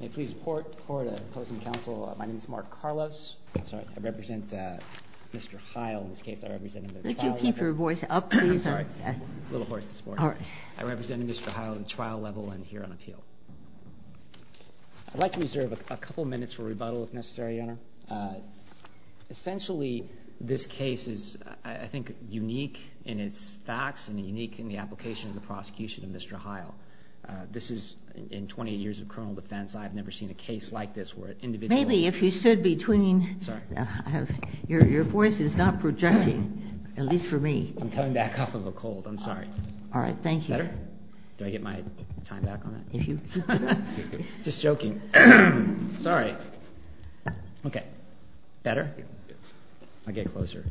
I'd like to reserve a couple minutes for rebuttal if necessary, Your Honor. Essentially, this case is, I think, unique in its facts and unique in the application of the prosecution of Mr. Hile. This is, in 28 years of criminal defense, I've never seen a case like this where an individual... Maybe if you stood between... Sorry. Your voice is not projecting, at least for me. I'm coming back off of a cold, I'm sorry. All right, thank you. Better? Do I get my time back on that? Just joking. Sorry. Okay. Better? I'll get closer.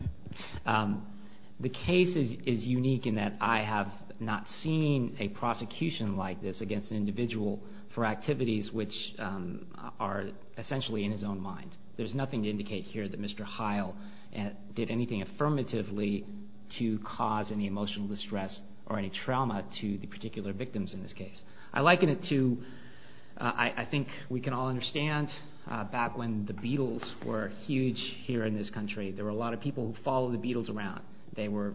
The case is unique in that I have not seen a prosecution like this against an individual for activities which are essentially in his own mind. There's nothing to indicate here that Mr. Hile did anything affirmatively to cause any emotional distress or any trauma to the particular victims in this case. I liken it to, I think we can all understand, back when the Beatles were huge here in this country, there were a lot of people who followed the Beatles around. They were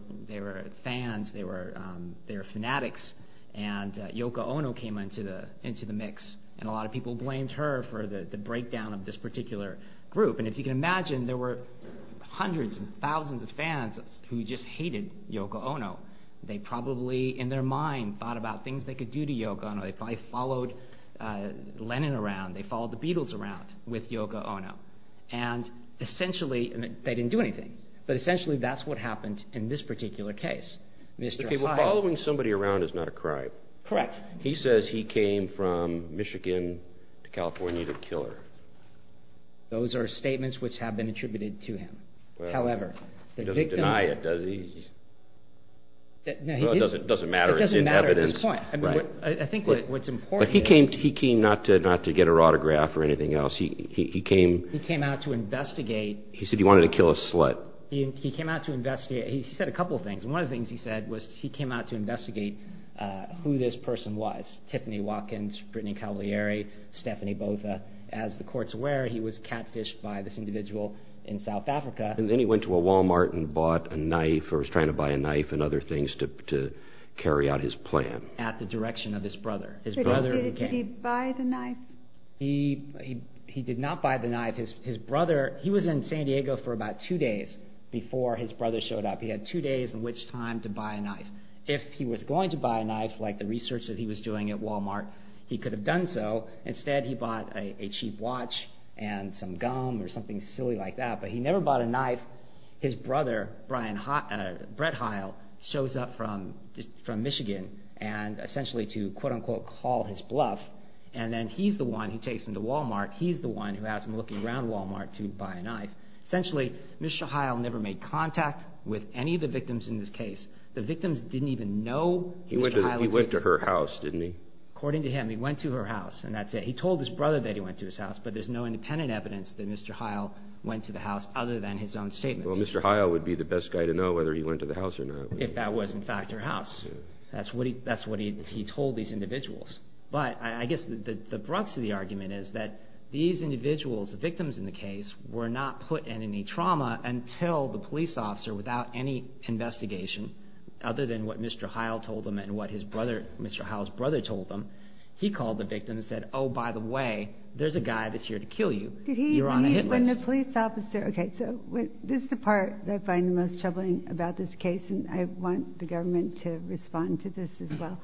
fans, they were fanatics, and Yoko Ono came into the mix, and a lot of people blamed her for the breakdown of this particular group. And if you can imagine, there were hundreds and thousands of fans who just hated Yoko Ono. They probably, in their mind, thought about things they could do to Yoko Ono. They probably followed Lennon around. They followed the Beatles around with Yoko Ono. And essentially, they didn't do anything. But essentially, that's what happened in this particular case. Following somebody around is not a crime. Correct. He says he came from Michigan to California to kill her. Those are statements which have been attributed to him. However, the victims... He doesn't deny it, does he? It doesn't matter. It doesn't matter at this point. I think what's important is... He came not to get her autograph or anything else. He came... He came out to investigate. He said he wanted to kill a slut. He came out to investigate. He said a couple of things. One of the things he said was he came out to investigate who this person was, Tiffany Watkins, Brittany Cavalieri, Stephanie Botha. As the courts were, he was catfished by this individual in South Africa. And then he went to a Walmart and bought a knife or was trying to buy a knife and other things to carry out his plan. At the direction of his brother. Did he buy the knife? He did not buy the knife. His brother... He was in San Diego for about two days before his brother showed up. He had two days in which time to buy a knife. If he was going to buy a knife, like the research that he was doing at Walmart, he could have done so. Instead, he bought a cheap watch and some gum or something silly like that. But he never bought a knife. His brother, Brett Heil, shows up from Michigan and essentially to, quote-unquote, call his bluff. And then he's the one who takes him to Walmart. He's the one who has him looking around Walmart to buy a knife. Essentially, Mr. Heil never made contact with any of the victims in this case. The victims didn't even know Mr. Heil was there. He went to her house, didn't he? According to him, he went to her house, and that's it. He told his brother that he went to his house, but there's no independent evidence that Mr. Heil went to the house other than his own statements. Well, Mr. Heil would be the best guy to know whether he went to the house or not. If that was, in fact, her house. That's what he told these individuals. But I guess the crux of the argument is that these individuals, the victims in the case, were not put in any trauma until the police officer, without any investigation, other than what Mr. Heil told them and what Mr. Heil's brother told them, he called the victim and said, Oh, by the way, there's a guy that's here to kill you. You're on a hit list. Okay, so this is the part that I find the most troubling about this case, and I want the government to respond to this as well.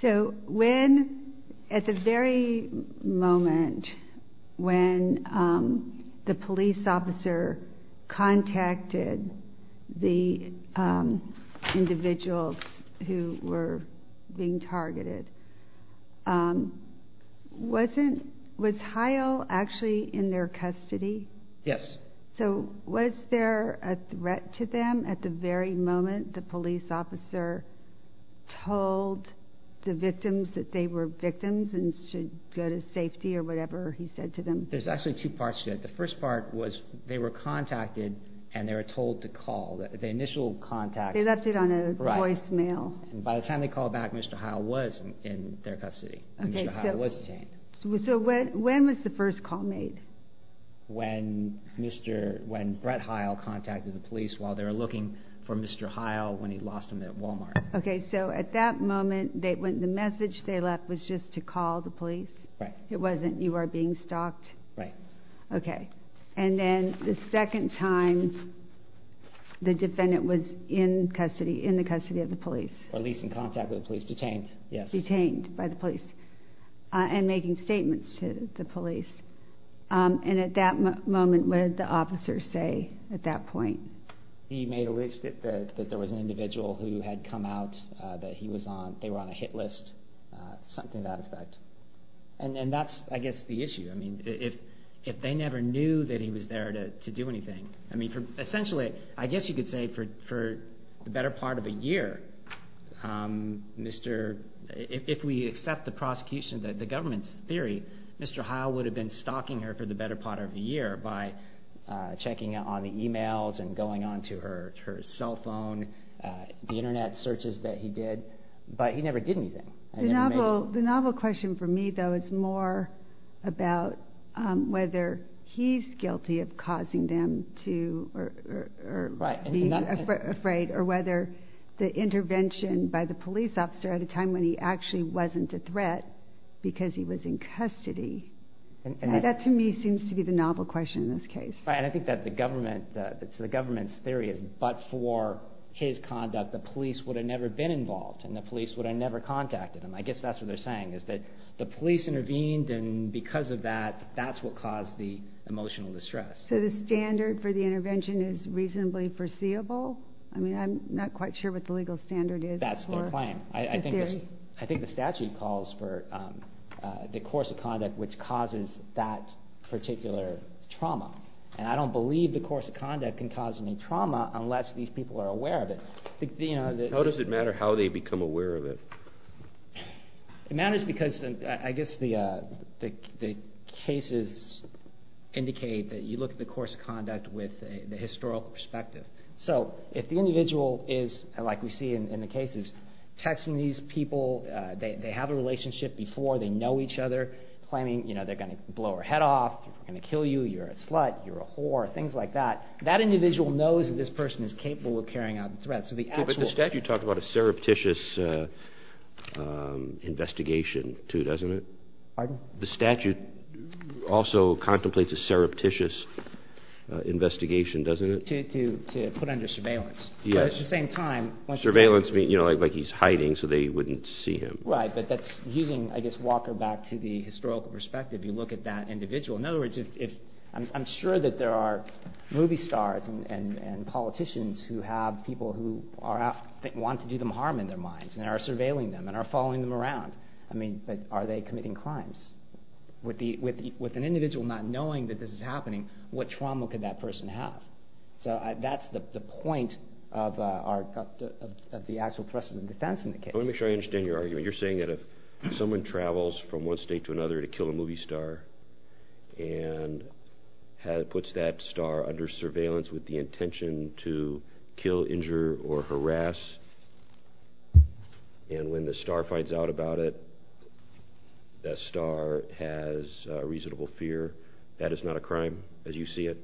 So when, at the very moment when the police officer contacted the individuals who were being targeted, was Heil actually in their custody? Yes. So was there a threat to them at the very moment the police officer told the victims that they were victims and should go to safety or whatever he said to them? There's actually two parts to it. The first part was they were contacted and they were told to call. The initial contact. They left it on a voicemail. And by the time they called back, Mr. Heil was in their custody. Mr. Heil was detained. So when was the first call made? When Brett Heil contacted the police while they were looking for Mr. Heil when he lost him at Walmart. Okay, so at that moment, the message they left was just to call the police? Right. It wasn't you are being stalked? Right. Okay. And then the second time the defendant was in the custody of the police? Or at least in contact with the police. Detained by the police. And making statements to the police. And at that moment, what did the officer say at that point? He made a list that there was an individual who had come out that he was on. They were on a hit list. Something to that effect. And that's, I guess, the issue. I mean, if they never knew that he was there to do anything. I mean, essentially, I guess you could say for the better part of a year, if we accept the prosecution, the government's theory, Mr. Heil would have been stalking her for the better part of the year by checking out all the emails and going on to her cell phone, the internet searches that he did. But he never did anything. The novel question for me, though, is more about whether he's guilty of causing them to be afraid or whether the intervention by the police officer at a time when he actually wasn't a threat because he was in custody. That, to me, seems to be the novel question in this case. And I think that the government's theory is but for his conduct, the police would have never been involved and the police would have never contacted him. I guess that's what they're saying is that the police intervened and because of that, that's what caused the emotional distress. So the standard for the intervention is reasonably foreseeable? I mean, I'm not quite sure what the legal standard is. That's their claim. I think the statute calls for the course of conduct which causes that particular trauma. And I don't believe the course of conduct can cause any trauma unless these people are aware of it. How does it matter how they become aware of it? It matters because I guess the cases indicate that you look at the course of conduct with the historical perspective. So if the individual is, like we see in the cases, texting these people, they have a relationship before, they know each other, claiming they're going to blow her head off, they're going to kill you, you're a slut, you're a whore, things like that, that individual knows that this person is capable of carrying out a threat. But the statute talked about a surreptitious investigation too, doesn't it? Pardon? The statute also contemplates a surreptitious investigation, doesn't it? To put under surveillance. Surveillance means like he's hiding so they wouldn't see him. Right, but that's using, I guess, Walker back to the historical perspective. You look at that individual. In other words, I'm sure that there are movie stars and politicians who have people who want to do them harm in their minds and are surveilling them and are following them around. With an individual not knowing that this is happening, what trauma could that person have? So that's the point of the actual precedent defense in the case. Let me make sure I understand your argument. You're saying that if someone travels from one state to another to kill a movie star and puts that star under surveillance with the intention to kill, injure, or harass, and when the star finds out about it, that star has reasonable fear, that it's not a crime as you see it?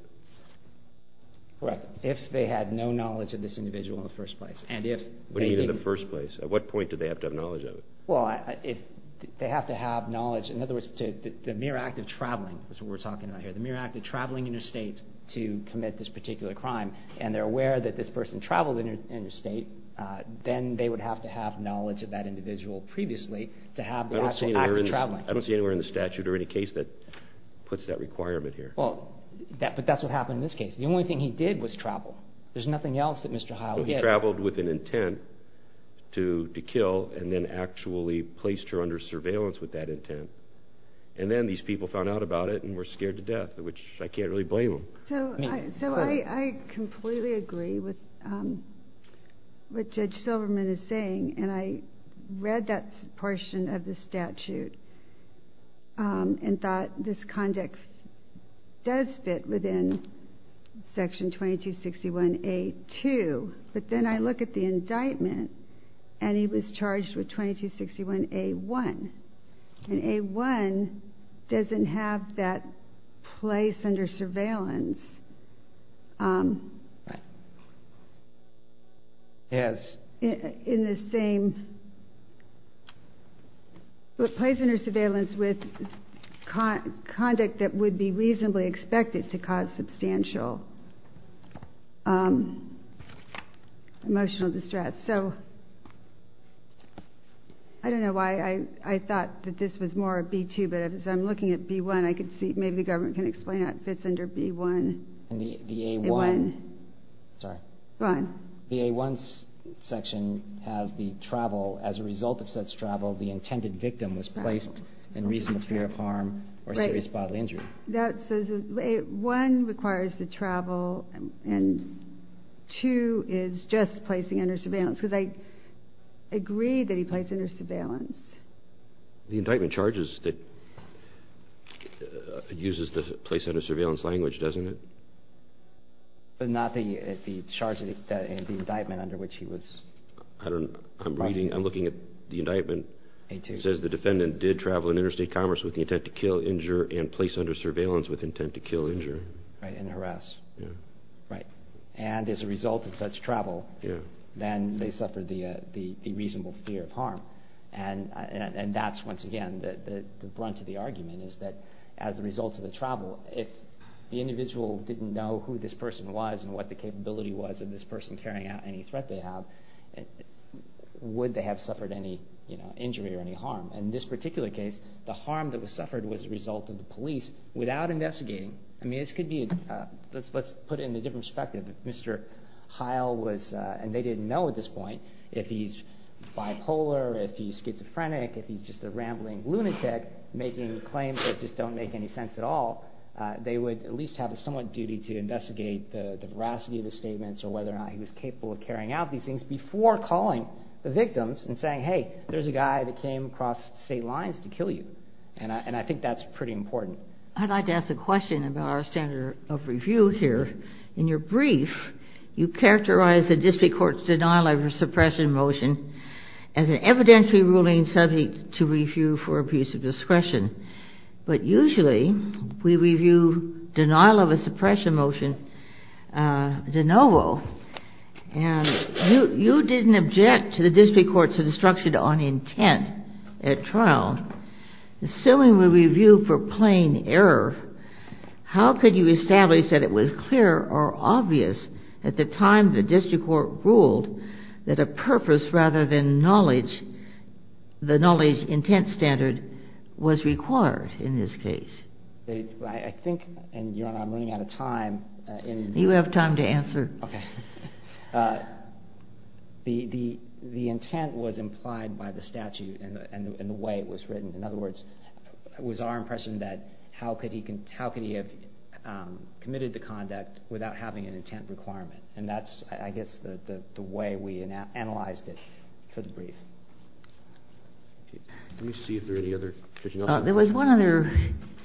Correct. If they had no knowledge of this individual in the first place. What do you mean in the first place? At what point do they have to have knowledge of it? Well, they have to have knowledge. In other words, the mere act of traveling is what we're talking about here. The mere act of traveling in a state to commit this particular crime and they're aware that this person traveled in a state, then they would have to have knowledge of that individual previously to have the actual act of traveling. I don't see anywhere in the statute or any case that puts that requirement here. But that's what happened in this case. The only thing he did was travel. There's nothing else that Mr. Howell did. He traveled with an intent to kill and then actually placed her under surveillance with that intent. And then these people found out about it and were scared to death, which I can't really blame them. So I completely agree with what Judge Silverman is saying, and I read that portion of the statute and thought this context does fit within Section 2261A2. But then I look at the indictment and he was charged with 2261A1. And A1 doesn't have that place under surveillance. It plays under surveillance with conduct that would be reasonably expected to cause substantial emotional distress. So I don't know why I thought that this was more B2, but as I'm looking at B1, I can see maybe the government can explain how it fits under B1. The A1 section has the travel. As a result of such travel, the intended victim was placed in reasonable fear of harm or serious bodily injury. Right. So A1 requires the travel, and 2 is just placing under surveillance because I agree that he placed under surveillance. The indictment charges that it uses the place under surveillance language, doesn't it? But not the indictment under which he was. I don't know. I'm looking at the indictment. It says the defendant did travel in interstate commerce with the intent to kill, injure, and place under surveillance with intent to kill, injure. Right, and harass. Right. And as a result of such travel, then they suffered the reasonable fear of harm. And that's, once again, the brunt of the argument is that as a result of the travel, if the individual didn't know who this person was and what the capability was of this person carrying out any threat they have, would they have suffered any injury or any harm? In this particular case, the harm that was suffered was a result of the police without investigating. I mean, this could be, let's put it in a different perspective. Mr. Heil was, and they didn't know at this point, if he's bipolar, if he's schizophrenic, if he's just a rambling lunatic making claims that just don't make any sense at all, they would at least have a somewhat duty to investigate the veracity of the statements or whether or not he was capable of carrying out these things before calling the victims and saying, hey, there's a guy that came across state lines to kill you. And I think that's pretty important. I'd like to ask a question about our standard of review here. In your brief, you characterize the district court's denial of a suppression motion as an evidently ruling subject to review for abuse of discretion. But usually we review denial of a suppression motion de novo. And you didn't object to the district court's instruction on intent at trial. Assuming we review for plain error, how could you establish that it was clear or obvious at the time the district court ruled that a purpose rather than knowledge, the knowledge intent standard, was required in this case? I think, and Your Honor, I'm running out of time. You have time to answer. Okay. The intent was implied by the statute and the way it was written. In other words, it was our impression that how could he have committed the conduct without having an intent requirement. And that's, I guess, the way we analyzed it for the brief. Let me see if there are any other questions. There was one other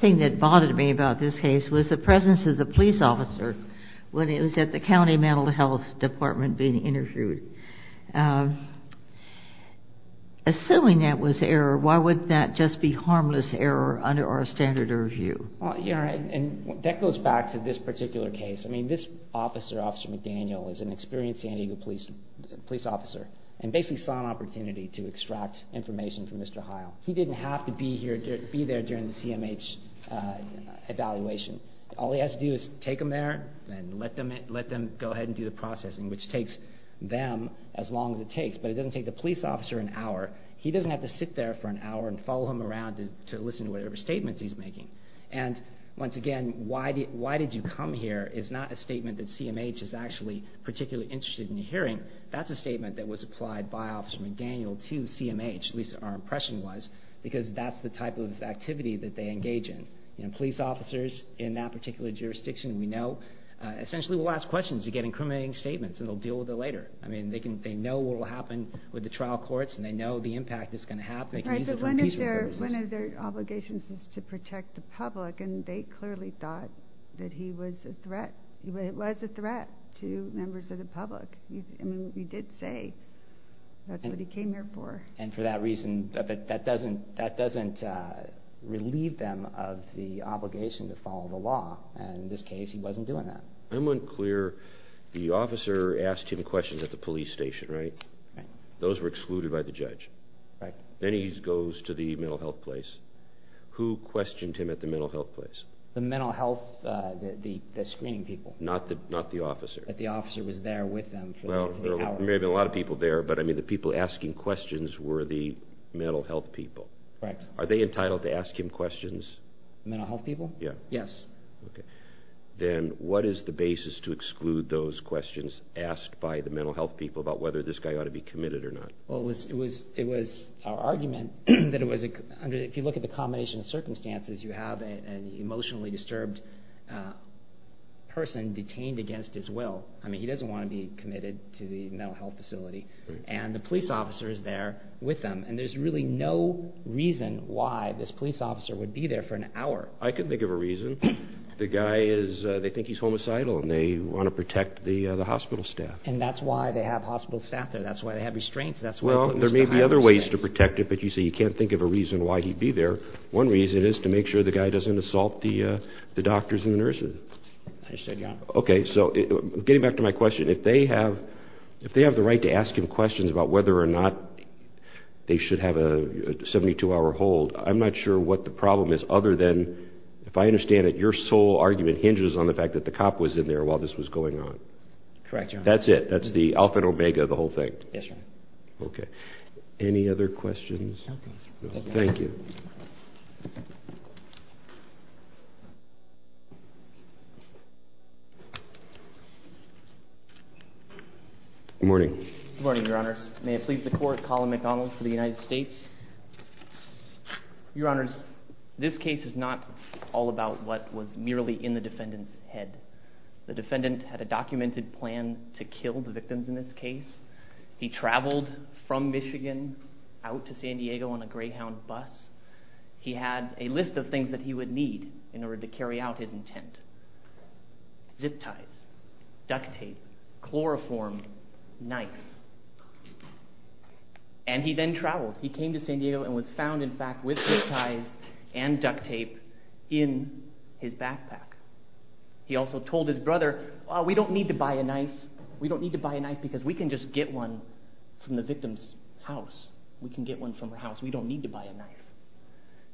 thing that bothered me about this case was the presence of the police officer when he was at the county mental health department being interviewed. Assuming that was error, why would that just be harmless error under our standard review? Well, Your Honor, that goes back to this particular case. I mean, this officer, Officer McDaniel, is an experienced San Diego police officer and basically saw an opportunity to extract information from Mr. Heil. He didn't have to be there during the CMH evaluation. All he has to do is take them there and let them go ahead and do the processing, which takes them as long as it takes, but it doesn't take the police officer an hour. He doesn't have to sit there for an hour and follow him around to listen to whatever statements he's making. And, once again, why did you come here is not a statement that CMH is actually particularly interested in hearing. That's a statement that was applied by Officer McDaniel to CMH, at least our impression was, because that's the type of activity that they engage in. Police officers in that particular jurisdiction, we know, essentially will ask questions, again, incriminating statements, and they'll deal with it later. I mean, they know what will happen with the trial courts, and they know the impact that's going to happen. Right, but one of their obligations is to protect the public, and they clearly thought that he was a threat to members of the public. I mean, you did say that's what he came here for. And, for that reason, that doesn't relieve them of the obligation to follow the law, and, in this case, he wasn't doing that. I'm unclear. The officer asked him questions at the police station, right? Right. Those were excluded by the judge. Right. Then he goes to the mental health place. Who questioned him at the mental health place? The mental health screening people. Not the officer. But the officer was there with them for the hour. Well, there may have been a lot of people there, but, I mean, the people asking questions were the mental health people. Correct. Are they entitled to ask him questions? Mental health people? Yes. Okay. Then what is the basis to exclude those questions asked by the mental health people about whether this guy ought to be committed or not? Well, it was our argument that if you look at the combination of circumstances, you have an emotionally disturbed person detained against his will. I mean, he doesn't want to be committed to the mental health facility, and the police officer is there with them, and there's really no reason why this police officer would be there for an hour. I can think of a reason. The guy is they think he's homicidal, and they want to protect the hospital staff. And that's why they have hospital staff there. That's why they have restraints. Well, there may be other ways to protect it, but, you see, you can't think of a reason why he'd be there. One reason is to make sure the guy doesn't assault the doctors and the nurses. I understand, Your Honor. Okay. So getting back to my question, if they have the right to ask him questions about whether or not they should have a 72-hour hold, I'm not sure what the problem is other than, if I understand it, your sole argument hinges on the fact that the cop was in there while this was going on. Correct, Your Honor. That's it. That's the alpha and omega of the whole thing. Yes, Your Honor. Okay. Any other questions? Okay. Thank you. Good morning. Good morning, Your Honors. May it please the Court, Colin McDonald for the United States. Your Honors, this case is not all about what was merely in the defendant's head. The defendant had a documented plan to kill the victims in this case. He traveled from Michigan out to San Diego on a Greyhound bus. He had a list of things that he would need in order to carry out his intent. Zip ties, duct tape, chloroform, knife. And he then traveled. He came to San Diego and was found, in fact, with zip ties and duct tape in his backpack. He also told his brother, we don't need to buy a knife. We don't need to buy a knife because we can just get one from the victim's house. We can get one from her house. We don't need to buy a knife.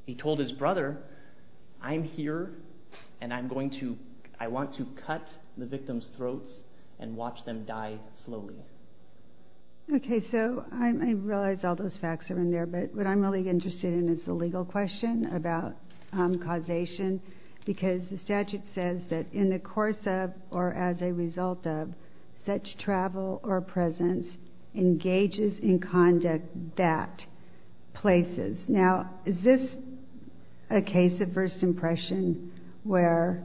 He told his brother, I'm here and I want to cut the victim's throats and watch them die slowly. Okay, so I realize all those facts are in there, but what I'm really interested in is the legal question about causation because the statute says that in the course of or as a result of such travel or presence engages in conduct that places. Now, is this a case of first impression where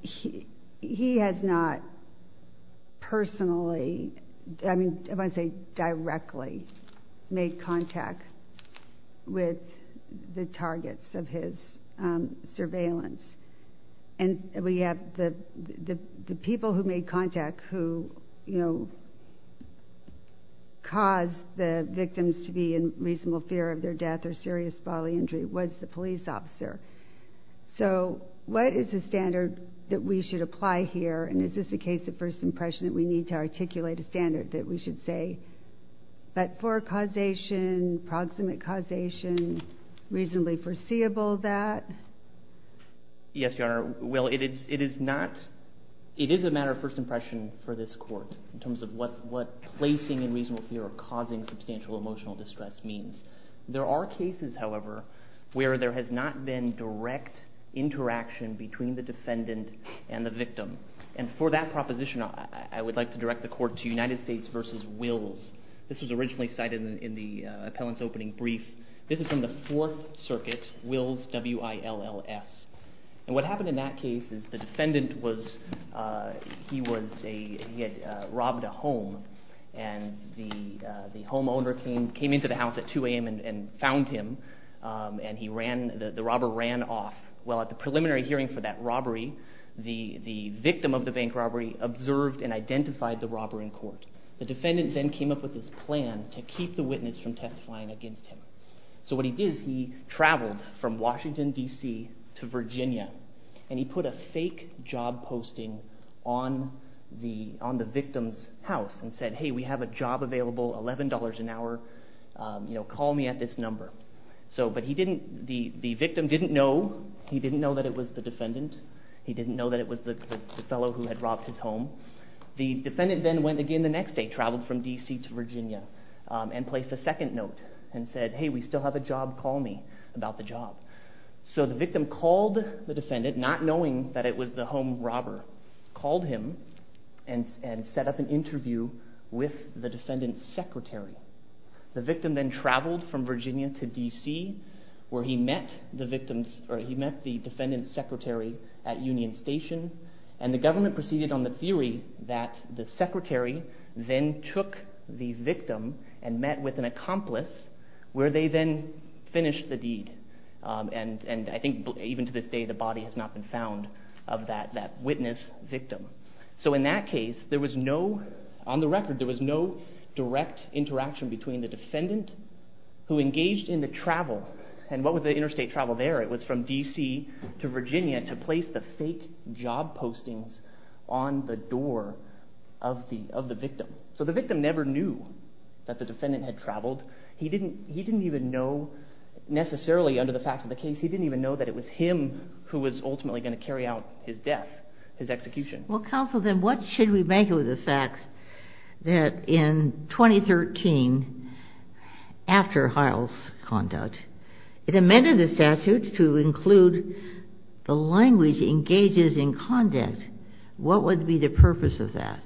he has not personally, I want to say directly, made contact with the targets of his surveillance? And we have the people who made contact who caused the victims to be in reasonable fear of their death or serious bodily injury was the police officer. So what is the standard that we should apply here? And is this a case of first impression that we need to articulate a standard that we should say, but for causation, proximate causation, reasonably foreseeable that? Yes, Your Honor. Well, it is a matter of first impression for this court in terms of what placing in reasonable fear or causing substantial emotional distress means. There are cases, however, where there has not been direct interaction between the defendant and the victim. And for that proposition, I would like to direct the court to United States v. Wills. This was originally cited in the appellant's opening brief. This is from the Fourth Circuit, Wills, W-I-L-L-S. And what happened in that case is the defendant was, he had robbed a home, and the homeowner came into the house at 2 a.m. and found him, and the robber ran off. Well, at the preliminary hearing for that robbery, the victim of the bank robbery observed and identified the robber in court. The defendant then came up with this plan to keep the witness from testifying against him. So what he did is he traveled from Washington, D.C. to Virginia, and he put a fake job posting on the victim's house and said, hey, we have a job available, $11 an hour, call me at this number. But he didn't, the victim didn't know, he didn't know that it was the defendant, he didn't know that it was the fellow who had robbed his home. The defendant then went again the next day, traveled from D.C. to Virginia, and placed a second note and said, hey, we still have a job, call me about the job. So the victim called the defendant, not knowing that it was the home robber, called him and set up an interview with the defendant's secretary. The victim then traveled from Virginia to D.C. where he met the defendant's secretary at Union Station, and the government proceeded on the theory that the secretary then took the victim and met with an accomplice where they then finished the deed. And I think even to this day the body has not been found of that witness victim. So in that case there was no, on the record, there was no direct interaction between the defendant who engaged in the travel, and what was the interstate travel there? It was from D.C. to Virginia to place the fake job postings on the door of the victim. So the victim never knew that the defendant had traveled. He didn't even know, necessarily under the facts of the case, he didn't even know that it was him who was ultimately going to carry out his death, his execution. Well, counsel, then what should we make of the fact that in 2013, after Heil's conduct, it amended the statute to include the language engages in conduct. What would be the purpose of that?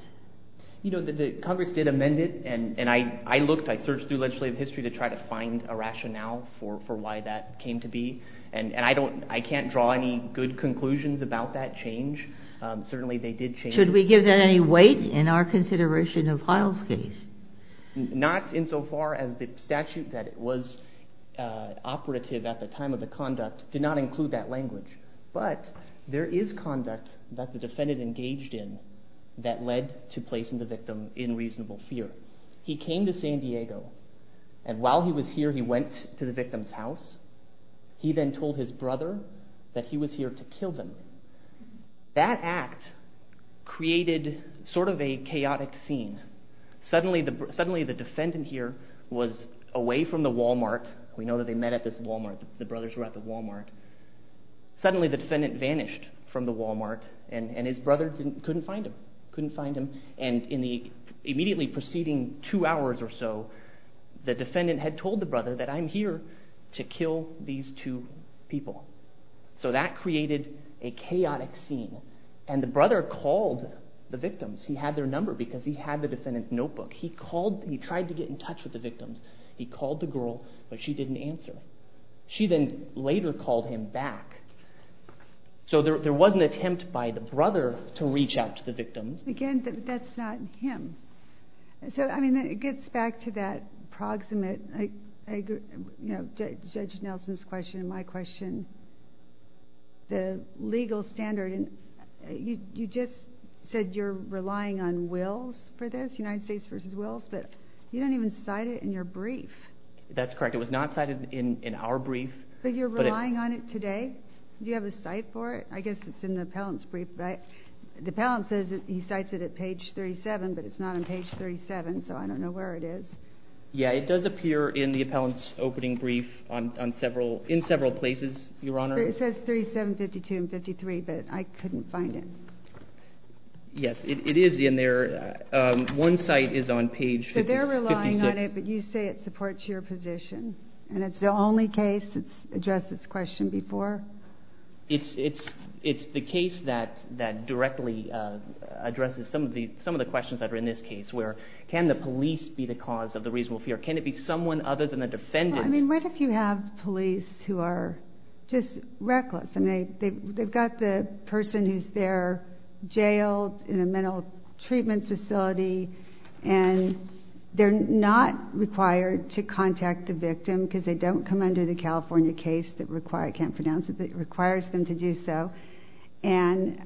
You know, Congress did amend it, and I looked. I searched through legislative history to try to find a rationale for why that came to be, and I can't draw any good conclusions about that change. Certainly they did change. Should we give that any weight in our consideration of Heil's case? Not insofar as the statute that was operative at the time of the conduct did not include that language. But there is conduct that the defendant engaged in that led to placing the victim in reasonable fear. He came to San Diego, and while he was here he went to the victim's house. He then told his brother that he was here to kill them. That act created sort of a chaotic scene. Suddenly the defendant here was away from the Wal-Mart. We know that they met at this Wal-Mart. The brothers were at the Wal-Mart. Suddenly the defendant vanished from the Wal-Mart, and his brother couldn't find him. He couldn't find him, and immediately preceding two hours or so, the defendant had told the brother that I'm here to kill these two people. So that created a chaotic scene, and the brother called the victims. He had their number because he had the defendant's notebook. He tried to get in touch with the victims. He called the girl, but she didn't answer. She then later called him back. So there was an attempt by the brother to reach out to the victims. Again, that's not him. So, I mean, it gets back to that proximate, you know, Judge Nelson's question and my question, the legal standard. You just said you're relying on wills for this, United States v. Wills, but you don't even cite it in your brief. That's correct. It was not cited in our brief. But you're relying on it today? Do you have a cite for it? I guess it's in the appellant's brief. The appellant says he cites it at page 37, but it's not on page 37, so I don't know where it is. Yeah, it does appear in the appellant's opening brief in several places, Your Honor. It says 37, 52, and 53, but I couldn't find it. Yes, it is in there. One cite is on page 56. So they're relying on it, but you say it supports your position, and it's the only case that's addressed this question before? It's the case that directly addresses some of the questions that are in this case, where can the police be the cause of the reasonable fear? Can it be someone other than the defendant? Well, I mean, what if you have police who are just reckless, and they've got the person who's there jailed in a mental treatment facility, and they're not required to contact the victim because they don't come under the California case that requires them to do so, and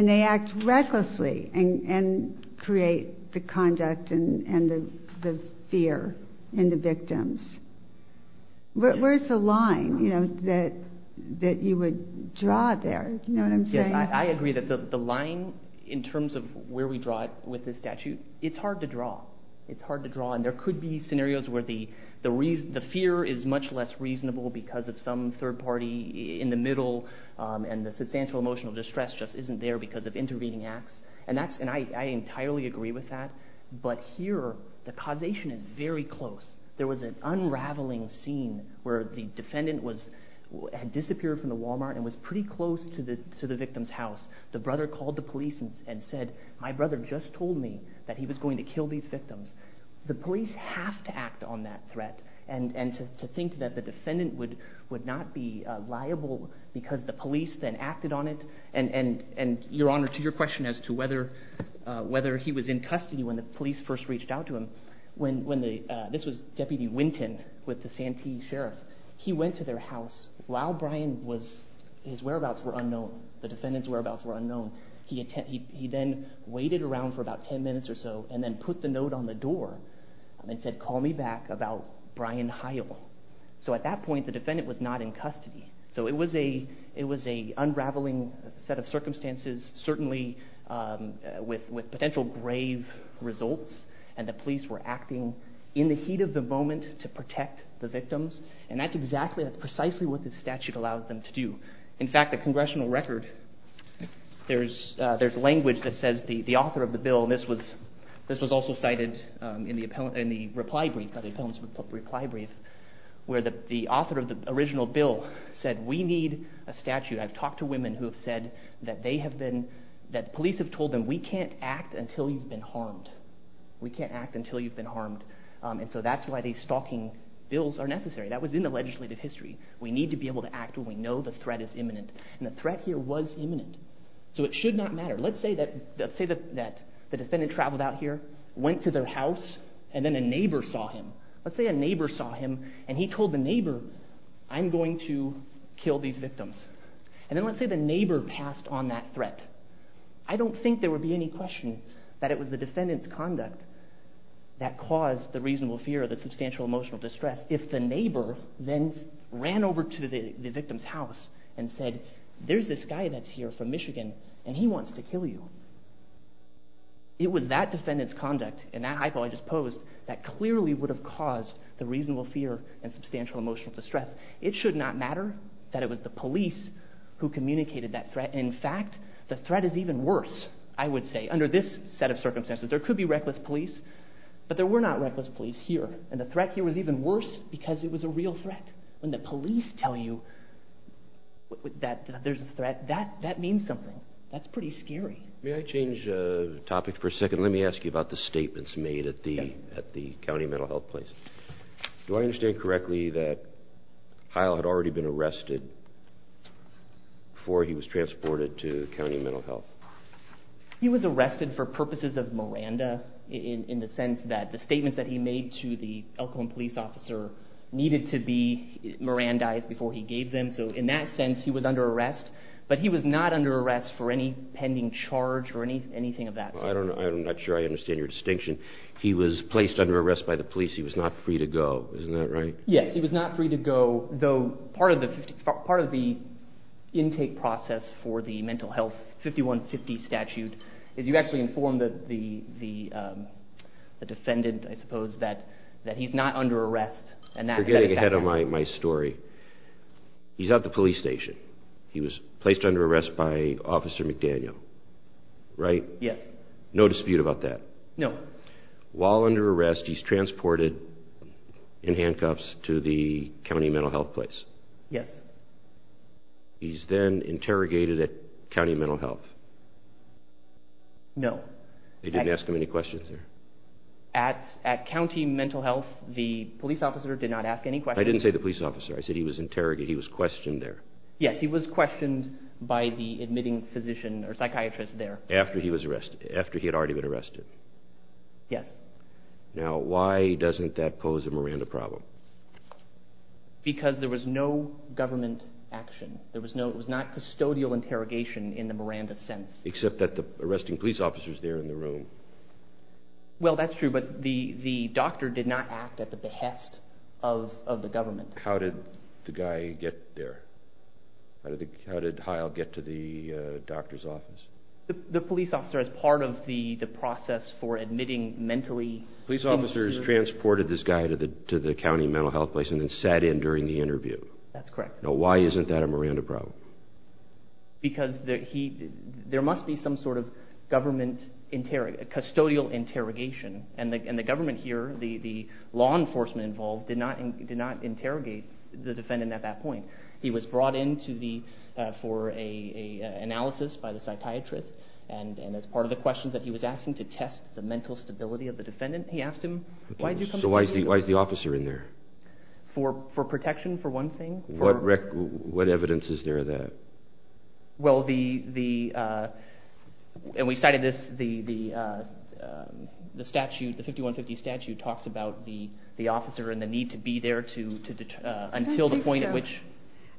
they act recklessly and create the conduct and the fear in the victims. Where's the line that you would draw there? Do you know what I'm saying? Yes, I agree that the line in terms of where we draw it with this statute, it's hard to draw. And there could be scenarios where the fear is much less reasonable because of some third party in the middle, and the substantial emotional distress just isn't there because of intervening acts. And I entirely agree with that. But here, the causation is very close. There was an unraveling scene where the defendant had disappeared from the Walmart and was pretty close to the victim's house. The brother called the police and said, My brother just told me that he was going to kill these victims. The police have to act on that threat, and to think that the defendant would not be liable because the police then acted on it. And Your Honor, to your question as to whether he was in custody when the police first reached out to him, this was Deputy Winton with the Santee Sheriff. He went to their house. While his whereabouts were unknown, the defendant's whereabouts were unknown, he then waited around for about ten minutes or so, and then put the note on the door and said, Call me back about Brian Heil. So at that point, the defendant was not in custody. So it was an unraveling set of circumstances, certainly with potential grave results, and the police were acting in the heat of the moment to protect the victims. And that's exactly, that's precisely what this statute allowed them to do. In fact, the congressional record, there's language that says the author of the bill, and this was also cited in the reply brief, where the author of the original bill said, We need a statute. I've talked to women who have said that police have told them, We can't act until you've been harmed. We can't act until you've been harmed. And so that's why these stalking bills are necessary. That was in the legislative history. We need to be able to act when we know the threat is imminent. And the threat here was imminent. So it should not matter. Let's say that the defendant traveled out here, went to their house, and then a neighbor saw him. Let's say a neighbor saw him, and he told the neighbor, I'm going to kill these victims. And then let's say the neighbor passed on that threat. I don't think there would be any question that it was the defendant's conduct that caused the reasonable fear or the substantial emotional distress if the neighbor then ran over to the victim's house and said, There's this guy that's here from Michigan, and he wants to kill you. It was that defendant's conduct, and that hypo I just posed, that clearly would have caused the reasonable fear and substantial emotional distress. It should not matter that it was the police who communicated that threat. In fact, the threat is even worse, I would say, under this set of circumstances. There could be reckless police, but there were not reckless police here. And the threat here was even worse because it was a real threat. When the police tell you that there's a threat, that means something. That's pretty scary. May I change topics for a second? Let me ask you about the statements made at the county mental health place. Do I understand correctly that Hyle had already been arrested before he was transported to county mental health? He was arrested for purposes of Miranda in the sense that the statements that he made to the Elkhorn police officer needed to be Mirandized before he gave them. So in that sense, he was under arrest, but he was not under arrest for any pending charge or anything of that sort. I'm not sure I understand your distinction. He was placed under arrest by the police. He was not free to go. Isn't that right? Yes, he was not free to go, though part of the intake process for the mental health 5150 statute is you actually inform the defendant, I suppose, that he's not under arrest. You're getting ahead of my story. He's at the police station. He was placed under arrest by Officer McDaniel, right? Yes. No dispute about that. No. While under arrest, he's transported in handcuffs to the county mental health place. Yes. He's then interrogated at county mental health. No. They didn't ask him any questions there? At county mental health, the police officer did not ask any questions. I didn't say the police officer. I said he was interrogated. He was questioned there. Yes, he was questioned by the admitting physician or psychiatrist there. After he had already been arrested. Yes. Now, why doesn't that pose a Miranda problem? Because there was no government action. It was not custodial interrogation in the Miranda sense. Except that the arresting police officer is there in the room. Well, that's true, but the doctor did not act at the behest of the government. How did the guy get there? How did Heil get to the doctor's office? The police officer, as part of the process for admitting mentally injured— That's correct. Now, why isn't that a Miranda problem? Because there must be some sort of government—custodial interrogation. And the government here, the law enforcement involved, did not interrogate the defendant at that point. He was brought in for an analysis by the psychiatrist. And as part of the questions that he was asking to test the mental stability of the defendant, he asked him, why did you come see me? So why is the officer in there? For protection, for one thing. What evidence is there of that? Well, the—and we cited this—the statute, the 5150 statute, talks about the officer and the need to be there until the point at which—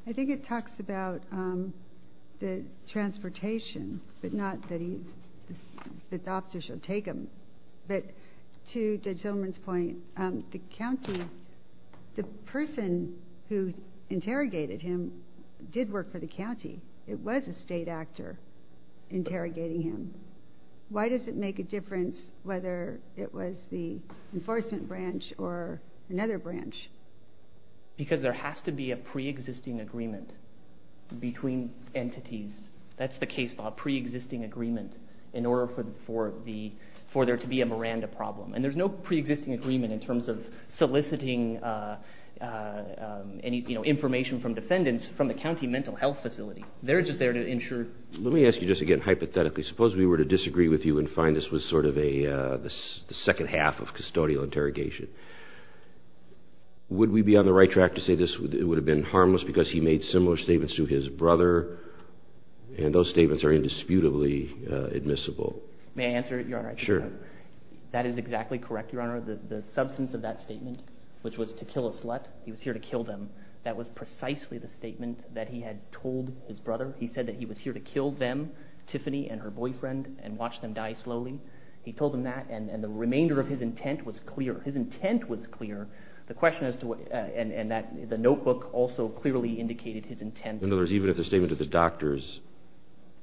I think it talks about the transportation, but not that the officer should take him. But to Judge Zimmerman's point, the county—the person who interrogated him did work for the county. It was a state actor interrogating him. Why does it make a difference whether it was the enforcement branch or another branch? Because there has to be a preexisting agreement between entities. That's the case law, preexisting agreement, in order for there to be a Miranda problem. And there's no preexisting agreement in terms of soliciting any information from defendants from the county mental health facility. They're just there to ensure— Let me ask you just again, hypothetically, suppose we were to disagree with you and find this was sort of the second half of custodial interrogation. Would we be on the right track to say this would have been harmless because he made similar statements to his brother, and those statements are indisputably admissible? May I answer, Your Honor? Sure. That is exactly correct, Your Honor. The substance of that statement, which was to kill a slut, he was here to kill them. That was precisely the statement that he had told his brother. He said that he was here to kill them, Tiffany and her boyfriend, and watch them die slowly. He told him that, and the remainder of his intent was clear. His intent was clear. The question is, and the notebook also clearly indicated his intent. In other words, even if the statement to the doctors,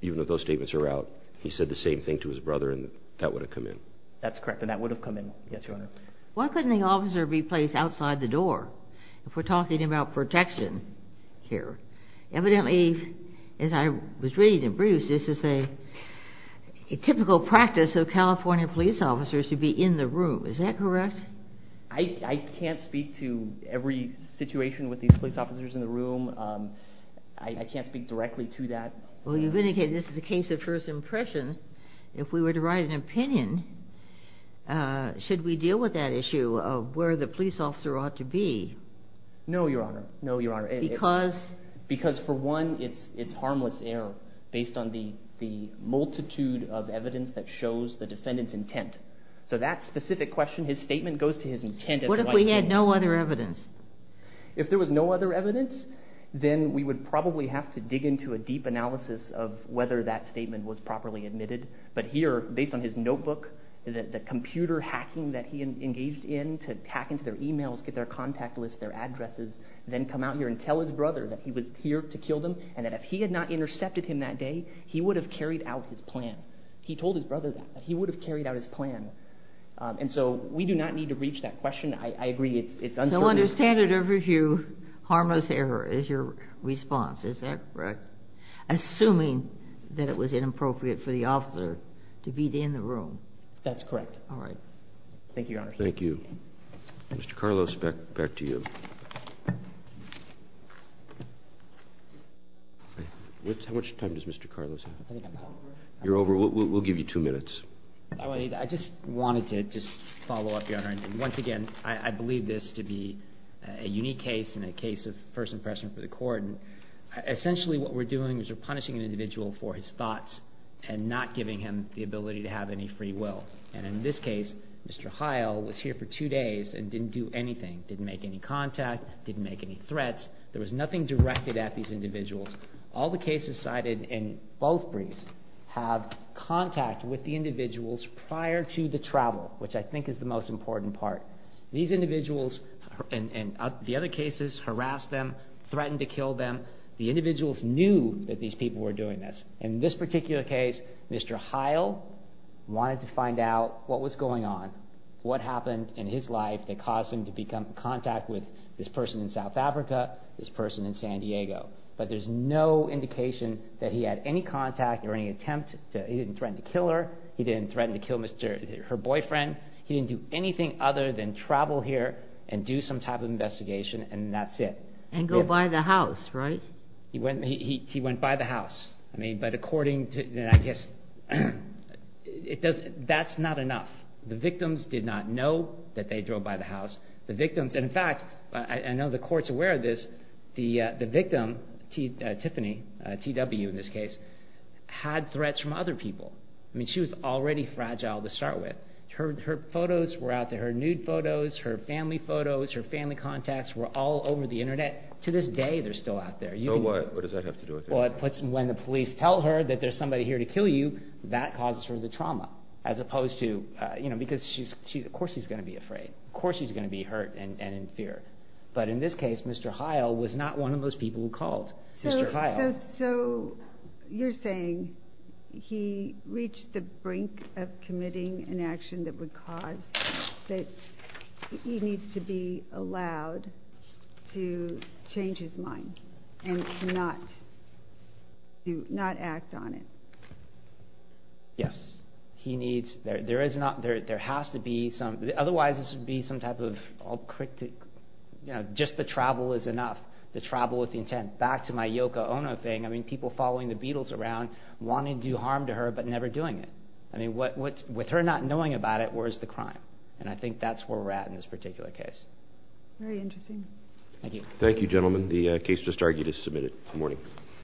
even if those statements are out, he said the same thing to his brother, and that would have come in. That's correct, and that would have come in, yes, Your Honor. Why couldn't the officer be placed outside the door if we're talking about protection here? Evidently, as I was reading in Bruce, this is a typical practice of California police officers to be in the room. Is that correct? I can't speak to every situation with these police officers in the room. I can't speak directly to that. Well, you've indicated this is a case of first impression. If we were to write an opinion, should we deal with that issue of where the police officer ought to be? No, Your Honor. No, Your Honor. Because? Because, for one, it's harmless error based on the multitude of evidence that shows the defendant's intent. So that specific question, his statement goes to his intent. What if we had no other evidence? If there was no other evidence, then we would probably have to dig into a deep analysis of whether that statement was properly admitted. But here, based on his notebook, the computer hacking that he engaged in to hack into their e-mails, get their contact list, their addresses, then come out here and tell his brother that he was here to kill them, and that if he had not intercepted him that day, he would have carried out his plan. He told his brother that. He would have carried out his plan. And so we do not need to reach that question. I agree it's uncertain. So under standard of review, harmless error is your response. Is that correct? Assuming that it was inappropriate for the officer to be in the room. That's correct. All right. Thank you, Your Honor. Thank you. Mr. Carlos, back to you. How much time does Mr. Carlos have? You're over. We'll give you two minutes. I just wanted to just follow up, Your Honor. And once again, I believe this to be a unique case and a case of first impression for the Court. And essentially what we're doing is we're punishing an individual for his thoughts and not giving him the ability to have any free will. And in this case, Mr. Heil was here for two days and didn't do anything, didn't make any contact, didn't make any threats. There was nothing directed at these individuals. All the cases cited in both briefs have contact with the individuals prior to the travel, which I think is the most important part. These individuals and the other cases harassed them, threatened to kill them. The individuals knew that these people were doing this. In this particular case, Mr. Heil wanted to find out what was going on, what happened in his life that caused him to become in contact with this person in South Africa, this person in San Diego. But there's no indication that he had any contact or any attempt. He didn't threaten to kill her. He didn't threaten to kill her boyfriend. He didn't do anything other than travel here and do some type of investigation, and that's it. And go by the house, right? He went by the house. But according to, I guess, that's not enough. The victims did not know that they drove by the house. In fact, I know the court's aware of this, the victim, Tiffany, TW in this case, had threats from other people. She was already fragile to start with. Her nude photos, her family photos, her family contacts were all over the Internet. To this day, they're still out there. So what? What does that have to do with it? When the police tell her that there's somebody here to kill you, that causes her the trauma because of course she's going to be afraid. Of course she's going to be hurt and in fear. But in this case, Mr. Heil was not one of those people who called. Mr. Heil. So you're saying he reached the brink of committing an action that would cause that he needs to be allowed to change his mind and not act on it? Yes. Otherwise, this would be some type of... Just the travel is enough. The travel with intent. Back to my Yoko Ono thing. People following the Beatles around, wanting to do harm to her but never doing it. With her not knowing about it, where's the crime? And I think that's where we're at in this particular case. Very interesting. Thank you, gentlemen. The case just argued is submitted. Good morning.